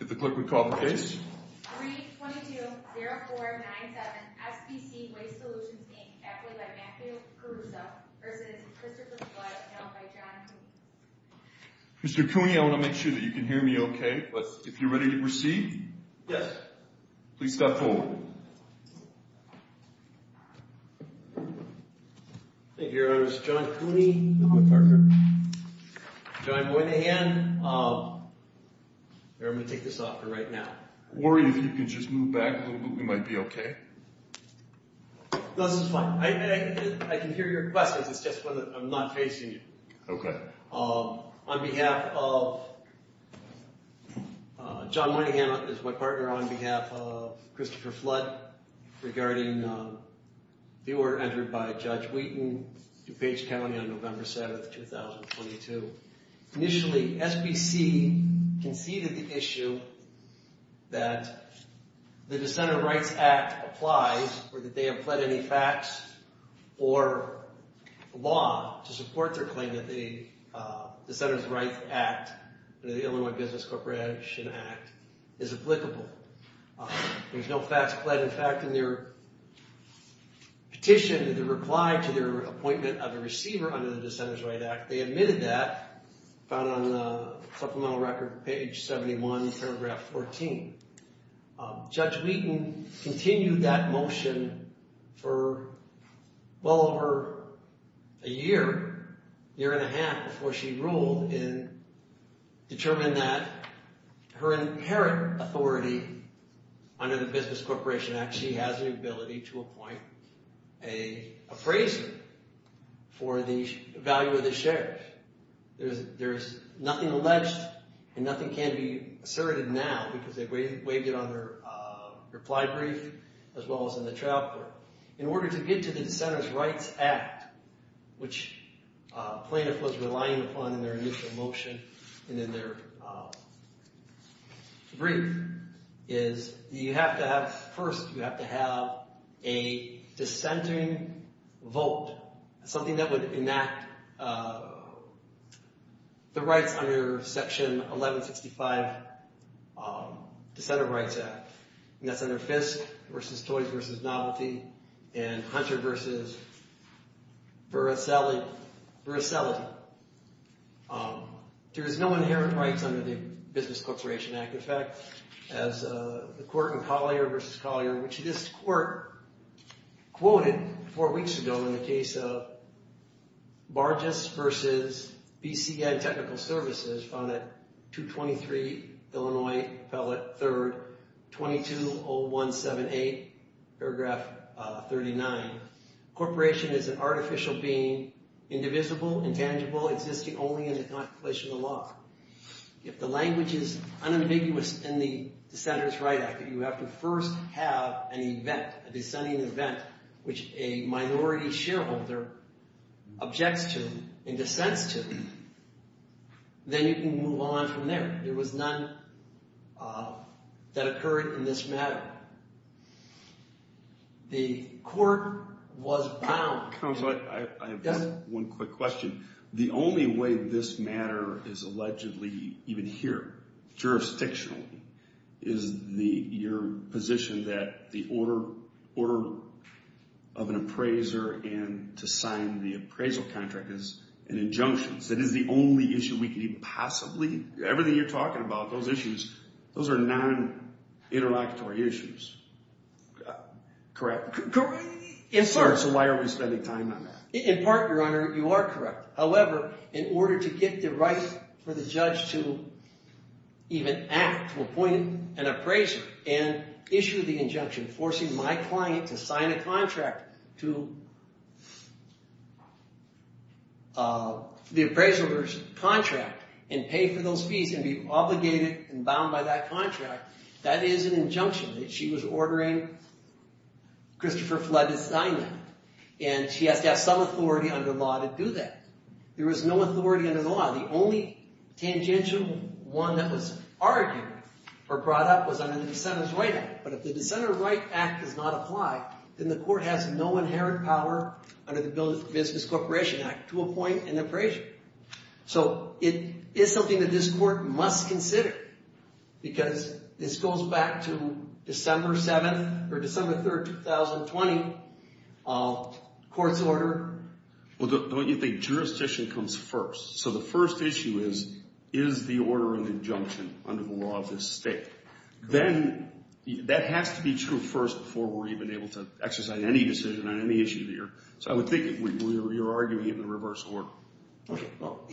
If the clerk would call the case. 3-22-04-97 SBC Waste Solutions, Inc. Act III by Matthew Caruso v. Christopher Flood, announced by John Cooney. Mr. Cooney, I want to make sure that you can hear me okay, but if you're ready to proceed, please step forward. Thank you, Your Honors. John Cooney, the clerk, here. John Moynihan, I'm going to take this off for right now. Worry that you can just move back a little bit. We might be okay. No, this is fine. I can hear your questions. It's just that I'm not facing you. Okay. On behalf of John Moynihan, is my partner on behalf of Christopher Flood, regarding the order entered by Judge Wheaton, DuPage County on November 7th, 2022. Initially, SBC conceded the issue that the Dissenters' Rights Act applies or that they have pled any facts or law to support their claim that the Dissenters' Rights Act or the Illinois Business Corporation Act is applicable. There's no facts pled. In fact, in their petition, in reply to their appointment of a receiver under the Dissenters' Rights Act, they admitted that found on supplemental record page 71, paragraph 14. Judge Wheaton continued that motion for well over a year, year and a half before she ruled and determined that her inherent authority under the Business Corporation Act, that she has an ability to appoint a appraiser for the value of the shares. There's nothing alleged and nothing can be asserted now because they've waived it on their reply brief as well as in the trial court. In order to get to the Dissenters' Rights Act, which plaintiff was relying upon in their initial motion and in their brief, is you have to have, first, you have to have a dissenting vote, something that would enact the rights under Section 1165, Dissenters' Rights Act. And that's under Fisk v. Toys v. Novelty and Hunter v. Veracelli, Veracelli. There's no inherent rights under the Business Corporation Act. In fact, as the court in Collier v. Collier, which this court quoted four weeks ago in the case of Bargess v. BCN Technical Services found at 223 Illinois Pellet 3rd, 220178, paragraph 39. Corporation is an artificial being, indivisible, intangible, existing only in the contemplation of the law. If the language is unambiguous in the Dissenters' Rights Act, you have to first have an event, a dissenting event, which a minority shareholder objects to and dissents to. Then you can move on from there. There was none that occurred in this matter. The court was bound. Counsel, I have just one quick question. The only way this matter is allegedly, even here, jurisdictionally, is your position that the order of an appraiser and to sign the appraisal contract is an injunction. So it is the only issue we could even possibly, everything you're talking about, those issues, those are non-interlocutory issues, correct? Correct. Yes, sir. So why are we spending time on that? In part, Your Honor, you are correct. However, in order to get the right for the judge to even act, to appoint an appraiser and issue the injunction, forcing my client to sign a contract to the appraiser's contract and pay for those fees and be obligated and bound by that contract, that is an injunction. She was ordering Christopher Flood to sign that. And she has to have some authority under law to do that. There is no authority under the law. The only tangential one that was argued or brought up was under the Dissenters' Right Act. But if the Dissenters' Right Act does not apply, then the court has no inherent power under the Business Corporation Act to appoint an appraiser. So it is something that this court must consider because this goes back to December 7th or December 3rd, 2020, court's order. Well, don't you think jurisdiction comes first? So the first issue is, is the order an injunction under the law of this state? Then, that has to be true first before we're even able to exercise any decision on any issue here. So I would think you're arguing in the reverse order. Okay, well,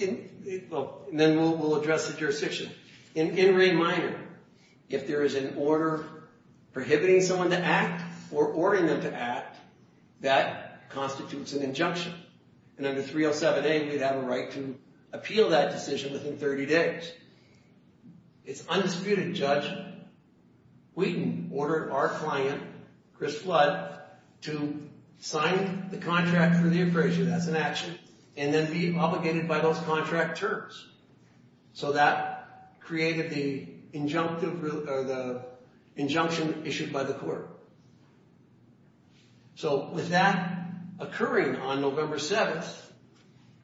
and then we'll address the jurisdiction. In Ray Minor, if there is an order prohibiting someone to act or ordering them to act, that constitutes an injunction. And under 307A, we'd have a right to appeal that decision within 30 days. It's undisputed, Judge. We can order our client, Chris Flood, to sign the contract for the appraiser, that's an action, and then be obligated by those contract terms. So that created the injunction issued by the court. So with that occurring on November 7th,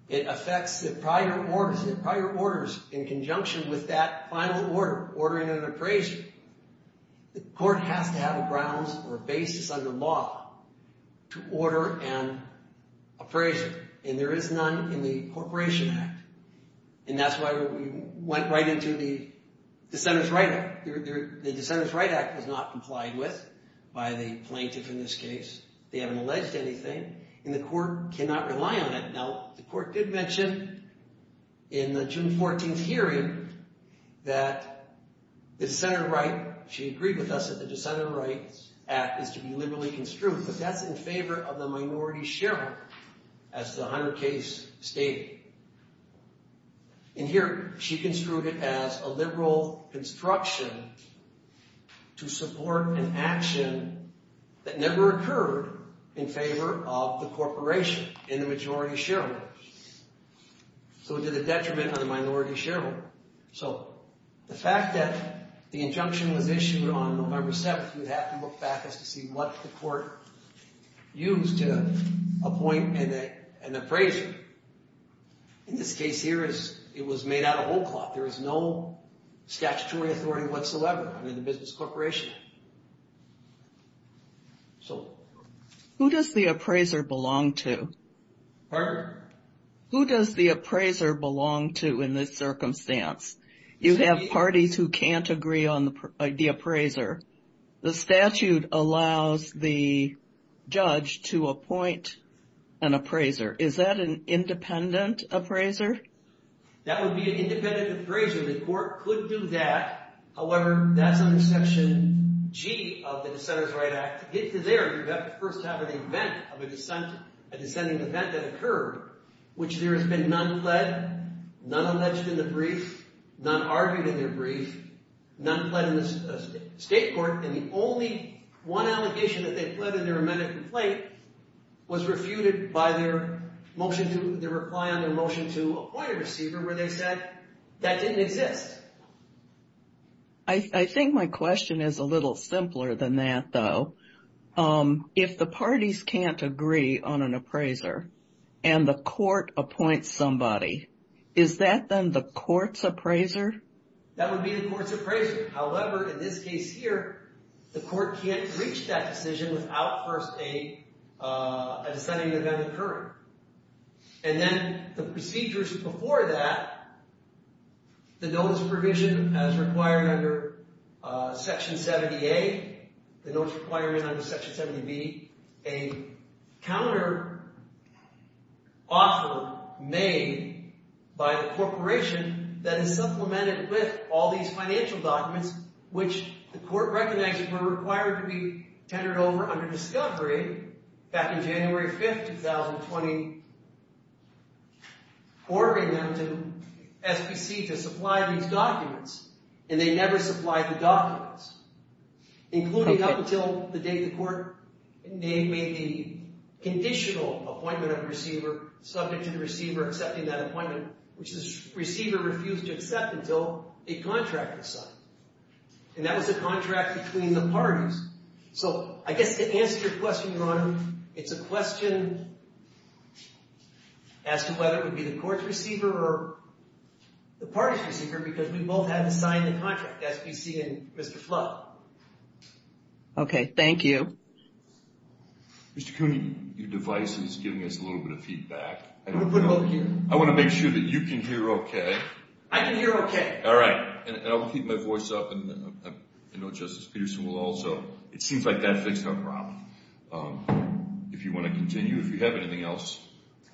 it affects the prior orders in conjunction with that final order, ordering an appraiser. The court has to have a grounds or a basis under law to order an appraiser, and there is none in the Corporation Act. And that's why we went right into the Dissenters' Right Act. The Dissenters' Right Act is not complied with by the plaintiff in this case. They haven't alleged anything, and the court cannot rely on it. Now, the court did mention in the June 14th hearing that the Dissenters' Right, she agreed with us that the Dissenters' Right Act is to be liberally construed, but that's in favor of the minority shareholder, as the Hunter case stated. And here, she construed it as a liberal construction to support an action that never occurred in favor of the corporation in the majority shareholder. So it did a detriment on the minority shareholder. The fact that the injunction was issued on November 7th, we'd have to look back as to see what the court used to appoint an appraiser. In this case here, it was made out of old cloth. There is no statutory authority whatsoever in the business corporation. So... Who does the appraiser belong to? Pardon? Who does the appraiser belong to in this circumstance? You have parties who can't agree on the appraiser. The statute allows the judge to appoint an appraiser. Is that an independent appraiser? That would be an independent appraiser. The court could do that. However, that's under Section G of the Dissenters' Right Act. To get to there, you'd have to first have an event of a dissenting event that occurred, which there has been none pled, none alleged in the brief, none argued in the brief, none pled in the state court, and the only one allegation that they pled in their amended complaint was refuted by their motion to, their reply on their motion to appoint a receiver where they said that didn't exist. I think my question is a little simpler than that, though. If the parties can't agree on an appraiser and the court appoints somebody, is that then the court's appraiser? That would be the court's appraiser. However, in this case here, the court can't reach that decision without first a dissenting event occurring. And then the procedures before that, the notice provision as required under Section 70A, the notice requirement under Section 70B, a counter-offer made by the corporation that is supplemented with all these financial documents which the court recognizes were required to be tendered over under discovery back in January 5th, 2020, ordering them to, SBC, to supply these documents. And they never supplied the documents, including up until the date the court made the conditional appointment of the receiver subject to the receiver accepting that appointment, which the receiver refused to accept until a contract was signed. And that was a contract between the parties. So I guess to answer your question, Your Honor, it's a question as to whether it would be the court's receiver or the party's receiver because we both had to sign the contract, SBC and Mr. Flood. Okay, thank you. Mr. Cooney, your device is giving us a little bit of feedback. I want to make sure that you can hear okay. I can hear okay. All right, and I'll keep my voice up and I know Justice Peterson will also. It seems like that fixed our problem. If you want to continue, if you have anything else,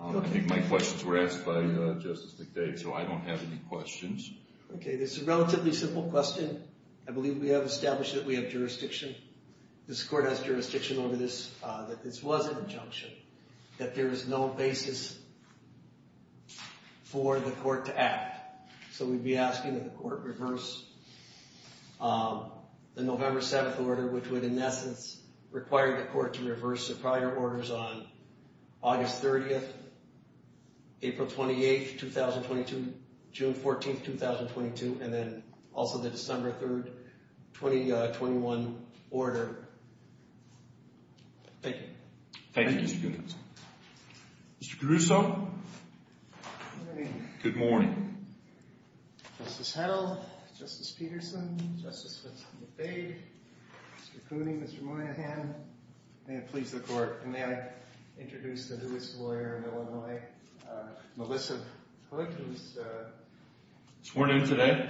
I think my questions were asked by Justice McDade, so I don't have any questions. Okay, this is a relatively simple question. I believe we have established that we have jurisdiction. This court has jurisdiction over this, that this was an injunction, that there is no basis for the court to act. So we'd be asking that the court reverse the November 7th order, which would in essence require the court to reverse the prior orders on August 30th, April 28th, 2022, June 14th, 2022, and then also the December 3rd, 2021 order. Thank you. Thank you, Mr. Cooney. Mr. Caruso. Good morning. Justice Hedl, Justice Peterson, Justice McDade, Mr. Cooney, Mr. Moynihan, may it please the court, may I introduce the newest lawyer in Illinois, Melissa Hood, who's sworn in today?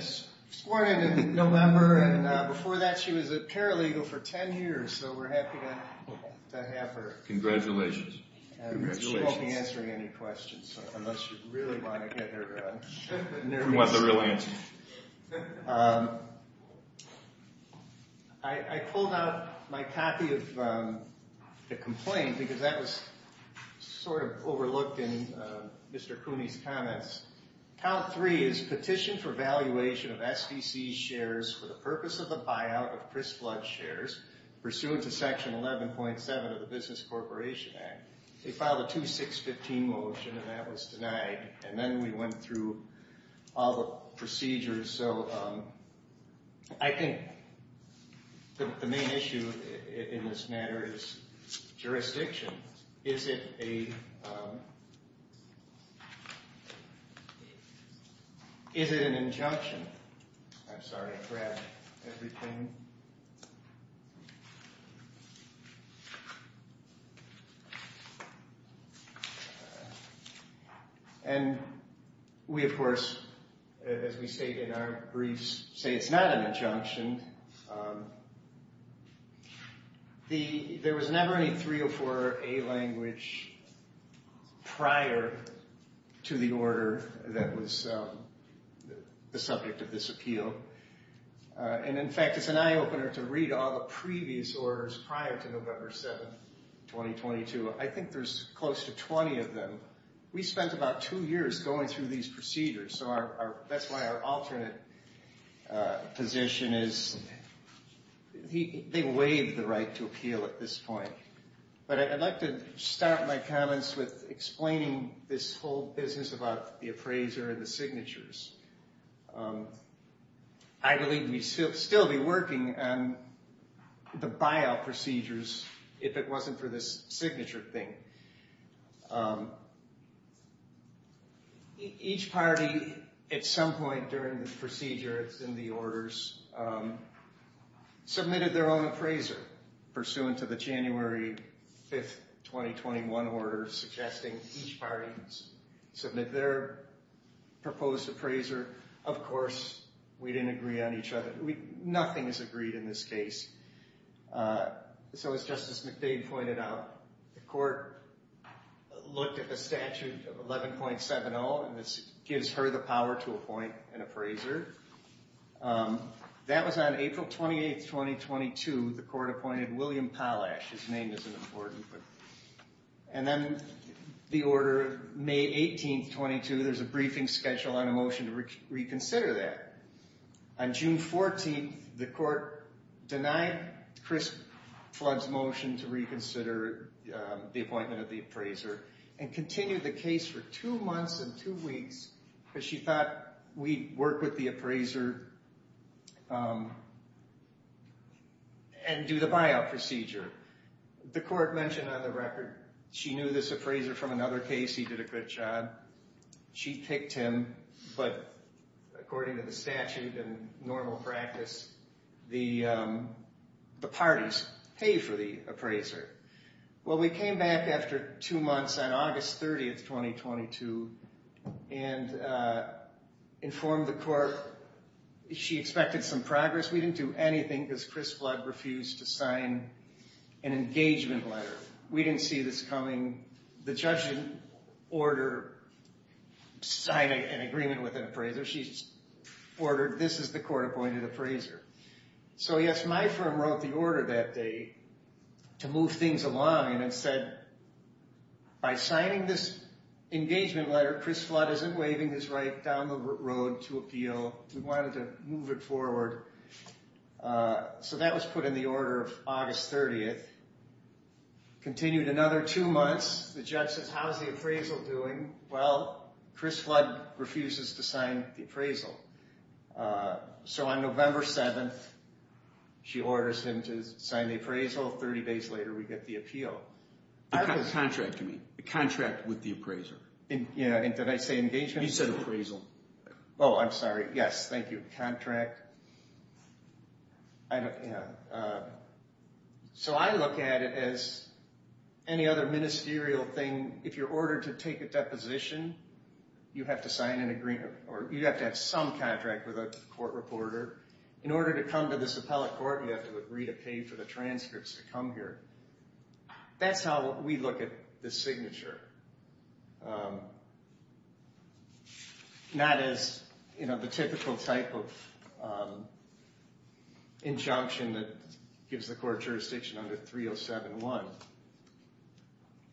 Sworn in in November, and before that she was a paralegal for 10 years, so we're happy to have her. Congratulations. She won't be answering any questions, unless you really want to get her nervous. I pulled out my copy of the complaint, because that was sort of overlooked in Mr. Cooney's comments. Count three is petition for valuation of SBC shares for the purpose of the buyout of Crisblood shares pursuant to section 11.7 of the Business Corporation Act. They filed a 2615 motion and that was denied, and then we went through all the procedures, so I think the main issue in this matter is jurisdiction. Is it an injunction? I'm sorry, I grabbed everything. And we, of course, as we state in our briefs, say it's not an injunction. There was never any 304A language prior to the order that was the subject of this appeal, and in fact it's an eye opener to read all the previous orders prior to November 7, 2022. I think there's close to 20 of them. We spent about two years going through these procedures, so that's why our alternate position is, they waived the right to appeal at this point. But I'd like to start my comments with explaining this whole business about the appraiser and the signatures. I believe we'd still be working on the buyout procedures if it wasn't for this signature thing. Each party, at some point during the procedure, it's in the orders, submitted their own appraiser pursuant to the January 5, 2021 order suggesting each party submit their proposed appraiser. Of course, we didn't agree on each other. Nothing is agreed in this case. So as Justice McDade pointed out, the court looked at the statute of 11.70, and this gives her the power to appoint an appraiser. That was on April 28, 2022. The court appointed William Polash. His name isn't important. And then the order of May 18, 2022, there's a briefing schedule on a motion to reconsider that. On June 14, the court denied Chris Flood's motion to reconsider the appointment of the appraiser and continued the case for two months and two weeks because she thought we'd work with the appraiser and do the buyout procedure. The court mentioned on the record she knew this appraiser from another case. He did a good job. She picked him, but according to the statute and normal practice, the parties pay for the appraiser. Well, we came back after two months, on August 30, 2022, and informed the court. She expected some progress. We didn't do anything because Chris Flood refused to sign an engagement letter. We didn't see this coming. The judge didn't order signing an agreement with an appraiser. She ordered, this is the court-appointed appraiser. So yes, my firm wrote the order that day to move things along, and it said, by signing this engagement letter, Chris Flood isn't waving his right down the road to appeal. We wanted to move it forward. So that was put in the order of August 30. Continued another two months. The judge says, how's the appraisal doing? Well, Chris Flood refuses to sign the appraisal. So on November 7, she orders him to sign the appraisal. Thirty days later, we get the appeal. Contract to me. A contract with the appraiser. Did I say engagement? You said appraisal. Oh, I'm sorry. Yes, thank you. Contract. So I look at it as any other ministerial thing. If you're ordered to take a deposition, you have to sign an agreement, or you have to have some contract with a court reporter. In order to come to this appellate court, you have to agree to pay for the transcripts to come here. That's how we look at the signature. Not as the typical type of injunction that gives the court jurisdiction under 3071.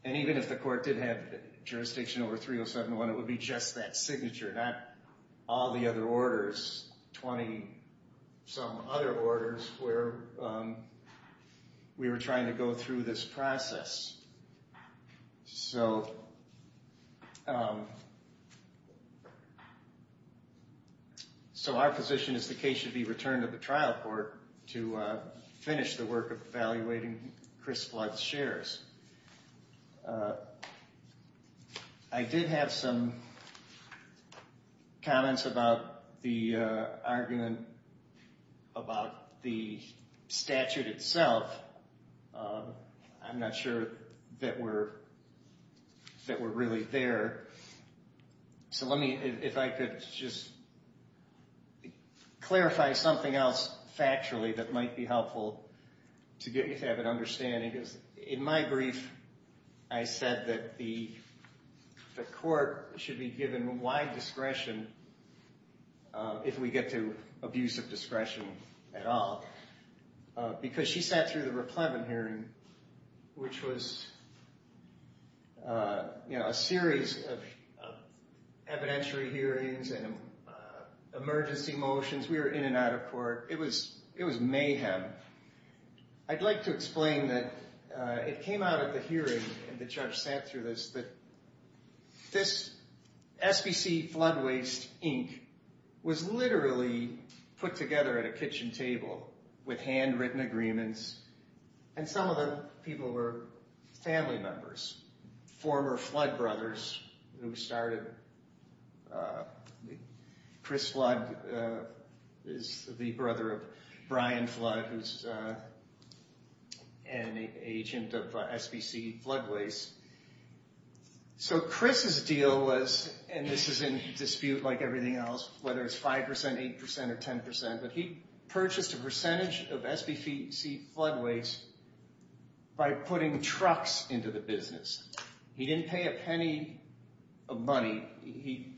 And even if the court did have jurisdiction over 3071, it would be just that signature, not all the other orders, 20 some other orders where we were trying to go through this process. So our position is the case should be returned to the trial court to finish the work of evaluating Chris Flood's shares. I did have some comments about the argument about the statute itself. I'm not sure that we're really there. So if I could just clarify something else factually that might be helpful to get you to have an understanding. In my brief, I said that the court should be given wide discretion if we get to abuse of discretion at all. Because she sat through the Raplevin hearing, which was a series of evidentiary hearings and emergency motions. We were in and out of court. It was mayhem. I'd like to explain that it came out at the hearing, and the judge sat through this, that this SBC flood waste ink was literally put together at a kitchen table with handwritten agreements. And some of the people were family members, former Flood brothers who started. Chris Flood is the brother of Brian Flood, who's an agent of SBC Flood Waste. So Chris's deal was, and this is in dispute like everything else, whether it's 5%, 8%, or 10%, but he purchased a percentage of SBC flood waste by putting trucks into the business. He didn't pay a penny of money. He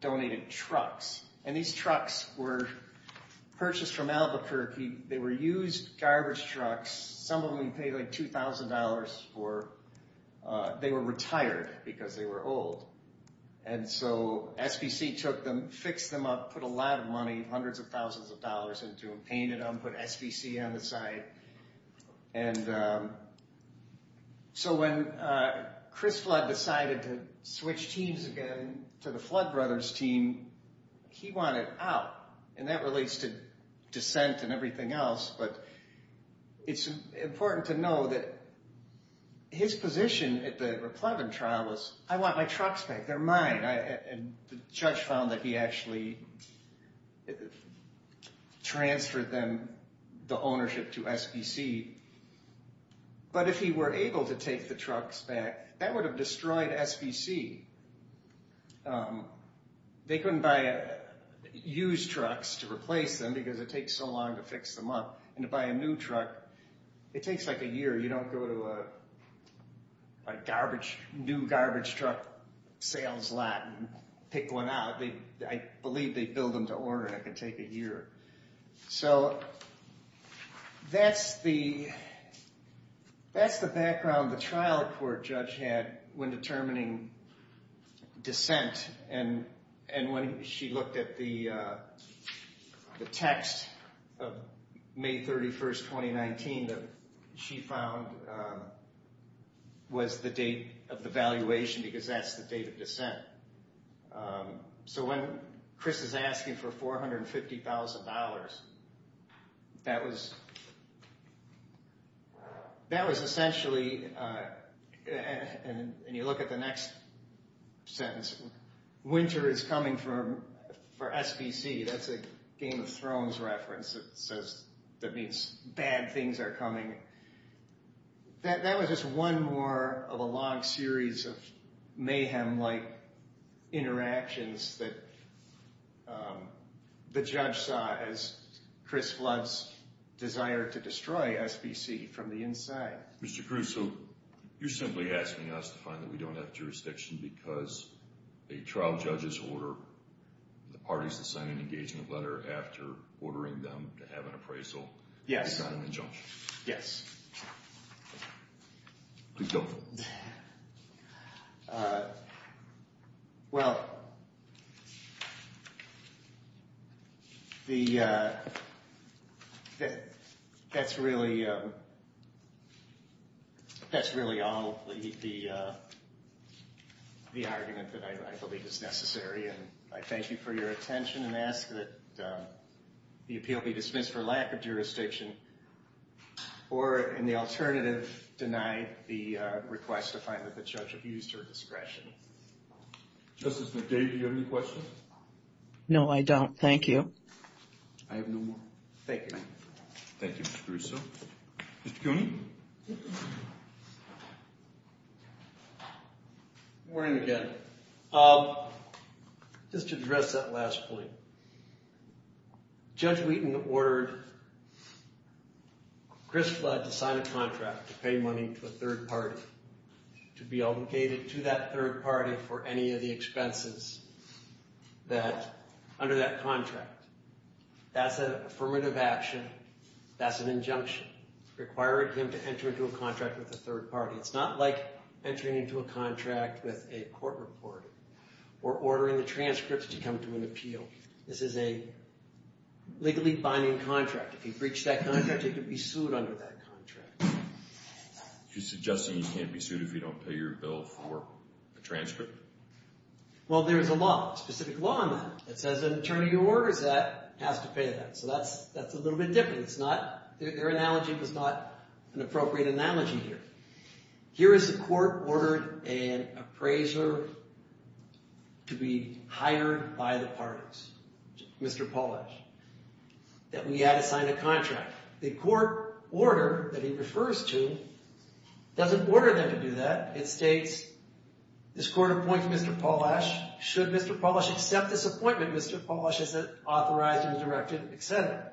donated trucks. And these trucks were purchased from Albuquerque. They were used garbage trucks. Some of them he paid like $2,000 for. They were retired because they were old. And so SBC took them, fixed them up, put a lot of money, hundreds of thousands of dollars into them, painted them, put SBC on the side. And so when Chris Flood decided to switch teams again to the Flood brothers team, he wanted out. And that relates to dissent and everything else, but it's important to know that his position at the Replevin trial was, I want my trucks back. They're mine. And the judge found that he actually transferred them, the ownership, to SBC. But if he were able to take the trucks back, that would have destroyed SBC. They couldn't use trucks to replace them because it takes so long to fix them up. And to buy a new truck, it takes like a year. You don't go to a new garbage truck sales lot and pick one out. I believe they bill them to order, and it can take a year. So that's the background the trial court judge had when determining dissent. And when she looked at the text of May 31, 2019, she found was the date of the valuation because that's the date of dissent. So when Chris is asking for $450,000, that was essentially, and you look at the next sentence, winter is coming for SBC. That's a Game of Thrones reference that means bad things are coming. That was just one more of a long series of mayhem-like interactions that the judge saw as Chris Flood's desire to destroy SBC from the inside. Mr. Cruz, so you're simply asking us to find that we don't have jurisdiction because a trial judge's order, the parties that sign an engagement letter after ordering them to have an appraisal, it's not an injunction. Yes. Please go. Well, that's really all the argument that I believe is necessary. I thank you for your attention and ask that the appeal be dismissed for lack of jurisdiction or, in the alternative, denied the request to find that the judge abused her discretion. Justice McDavid, do you have any questions? No, I don't. Thank you. I have no more. Thank you. Thank you, Mr. Caruso. Mr. Cooney? Good morning again. Just to address that last point. Judge Wheaton ordered Chris Flood to sign a contract to pay money to a third party to be obligated to that third party for any of the expenses that under that contract. That's an affirmative action. That's an injunction requiring him to enter into a contract with a third party. It's not like entering into a contract with a court reporter or ordering the transcripts to come to an appeal. This is a legally binding contract. If you breach that contract, you could be sued under that contract. She's suggesting you can't be sued if you don't pay your bill for a transcript? Well, there is a law, a specific law on that. It says an attorney who orders that has to pay that. So that's a little bit different. Their analogy was not an appropriate analogy here. Here is the court ordered an appraiser to be hired by the parties, Mr. Polash, that we had to sign a contract. The court order that he refers to doesn't order them to do that. It states this court appoints Mr. Polash. Should Mr. Polash accept this appointment, Mr. Polash is authorized and directed, et cetera.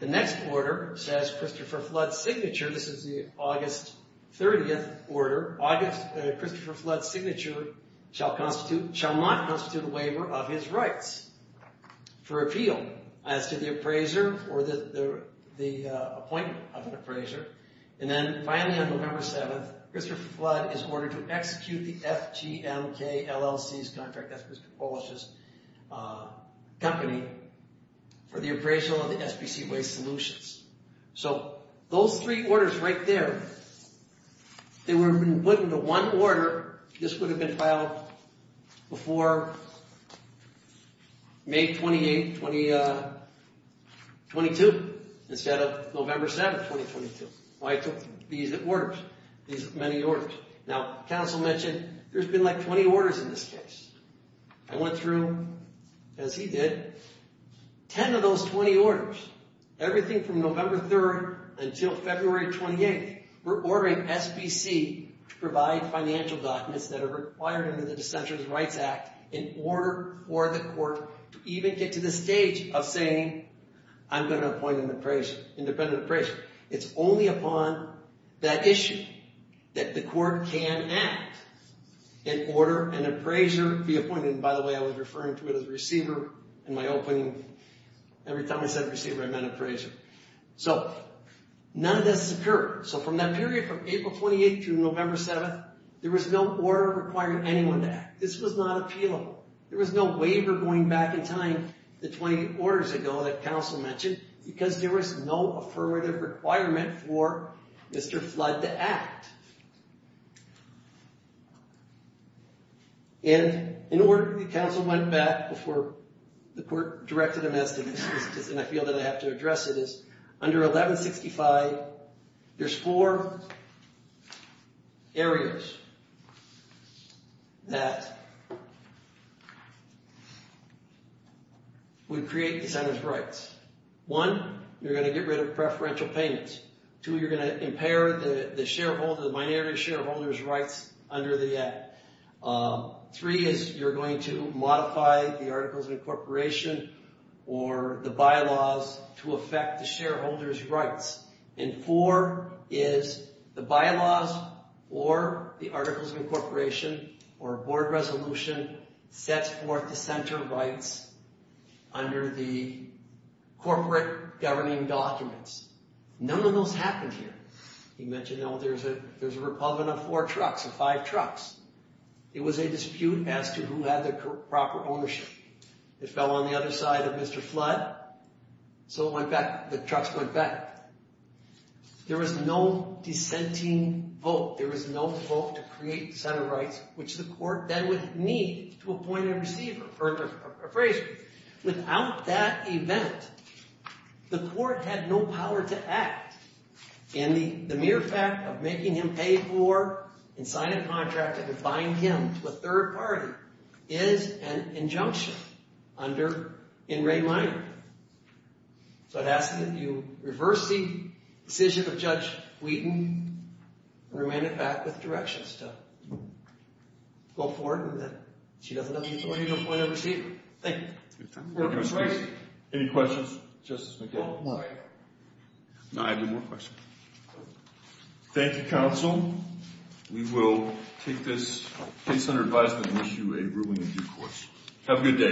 The next order says Christopher Flood's signature. This is the August 30th order. August, Christopher Flood's signature shall constitute, shall not constitute a waiver of his rights for appeal as to the appraiser or the appointment of an appraiser. And then finally on November 7th, Christopher Flood is ordered to execute the FGMK LLC's contract, that's Christopher Polash's company, for the appraisal of the SPC Waste Solutions. So those three orders right there, they would have been put into one order. This would have been filed before May 28th, 2022, instead of November 7th, 2022. I took these orders, these many orders. Now, counsel mentioned there's been like 20 orders in this case. I went through, as he did, 10 of those 20 orders, everything from November 3rd until February 28th. We're ordering SPC to provide financial documents that are required under the Dissenters' Rights Act in order for the court to even get to the stage of saying, I'm gonna appoint an appraiser, independent appraiser. It's only upon that issue that the court can act in order an appraiser be appointed. And by the way, I was referring to it as receiver in my opening, every time I said receiver, I meant appraiser. So none of this occurred. So from that period, from April 28th to November 7th, there was no order requiring anyone to act. This was not appealable. There was no waiver going back in time to 20 orders ago that counsel mentioned because there was no affirmative requirement for Mr. Flood to act. And in order, the counsel went back before the court directed him as to this, and I feel that I have to address it, is under 1165, there's four areas that would create dissenters' rights. One, you're gonna get rid of preferential payments. Two, you're gonna impair the shareholder or the minority shareholder's rights under the act. Three is you're going to modify the Articles of Incorporation or the bylaws to affect the shareholder's rights. And four is the bylaws or the Articles of Incorporation or board resolution sets forth dissenter rights under the corporate governing documents. None of those happened here. He mentioned, oh, there's a republican of four trucks, of five trucks. It was a dispute as to who had the proper ownership. It fell on the other side of Mr. Flood, so it went back, the trucks went back. There was no dissenting vote. There was no vote to create dissenter rights which the court then would need to appoint a receiver or appraiser. Without that event, the court had no power to act in the mere fact of making him pay for and sign a contract and bind him to a third party is an injunction under in re minor. So it asks that you reverse the decision of Judge Wheaton and remand it back with directions to go forward and that she doesn't have the authority to appoint a receiver. Thank you. Any questions? Any questions, Justice McKibbin? No. No, I have no more questions. Thank you, counsel. We will take this case under advisement and issue a ruling in due course. Have a good day.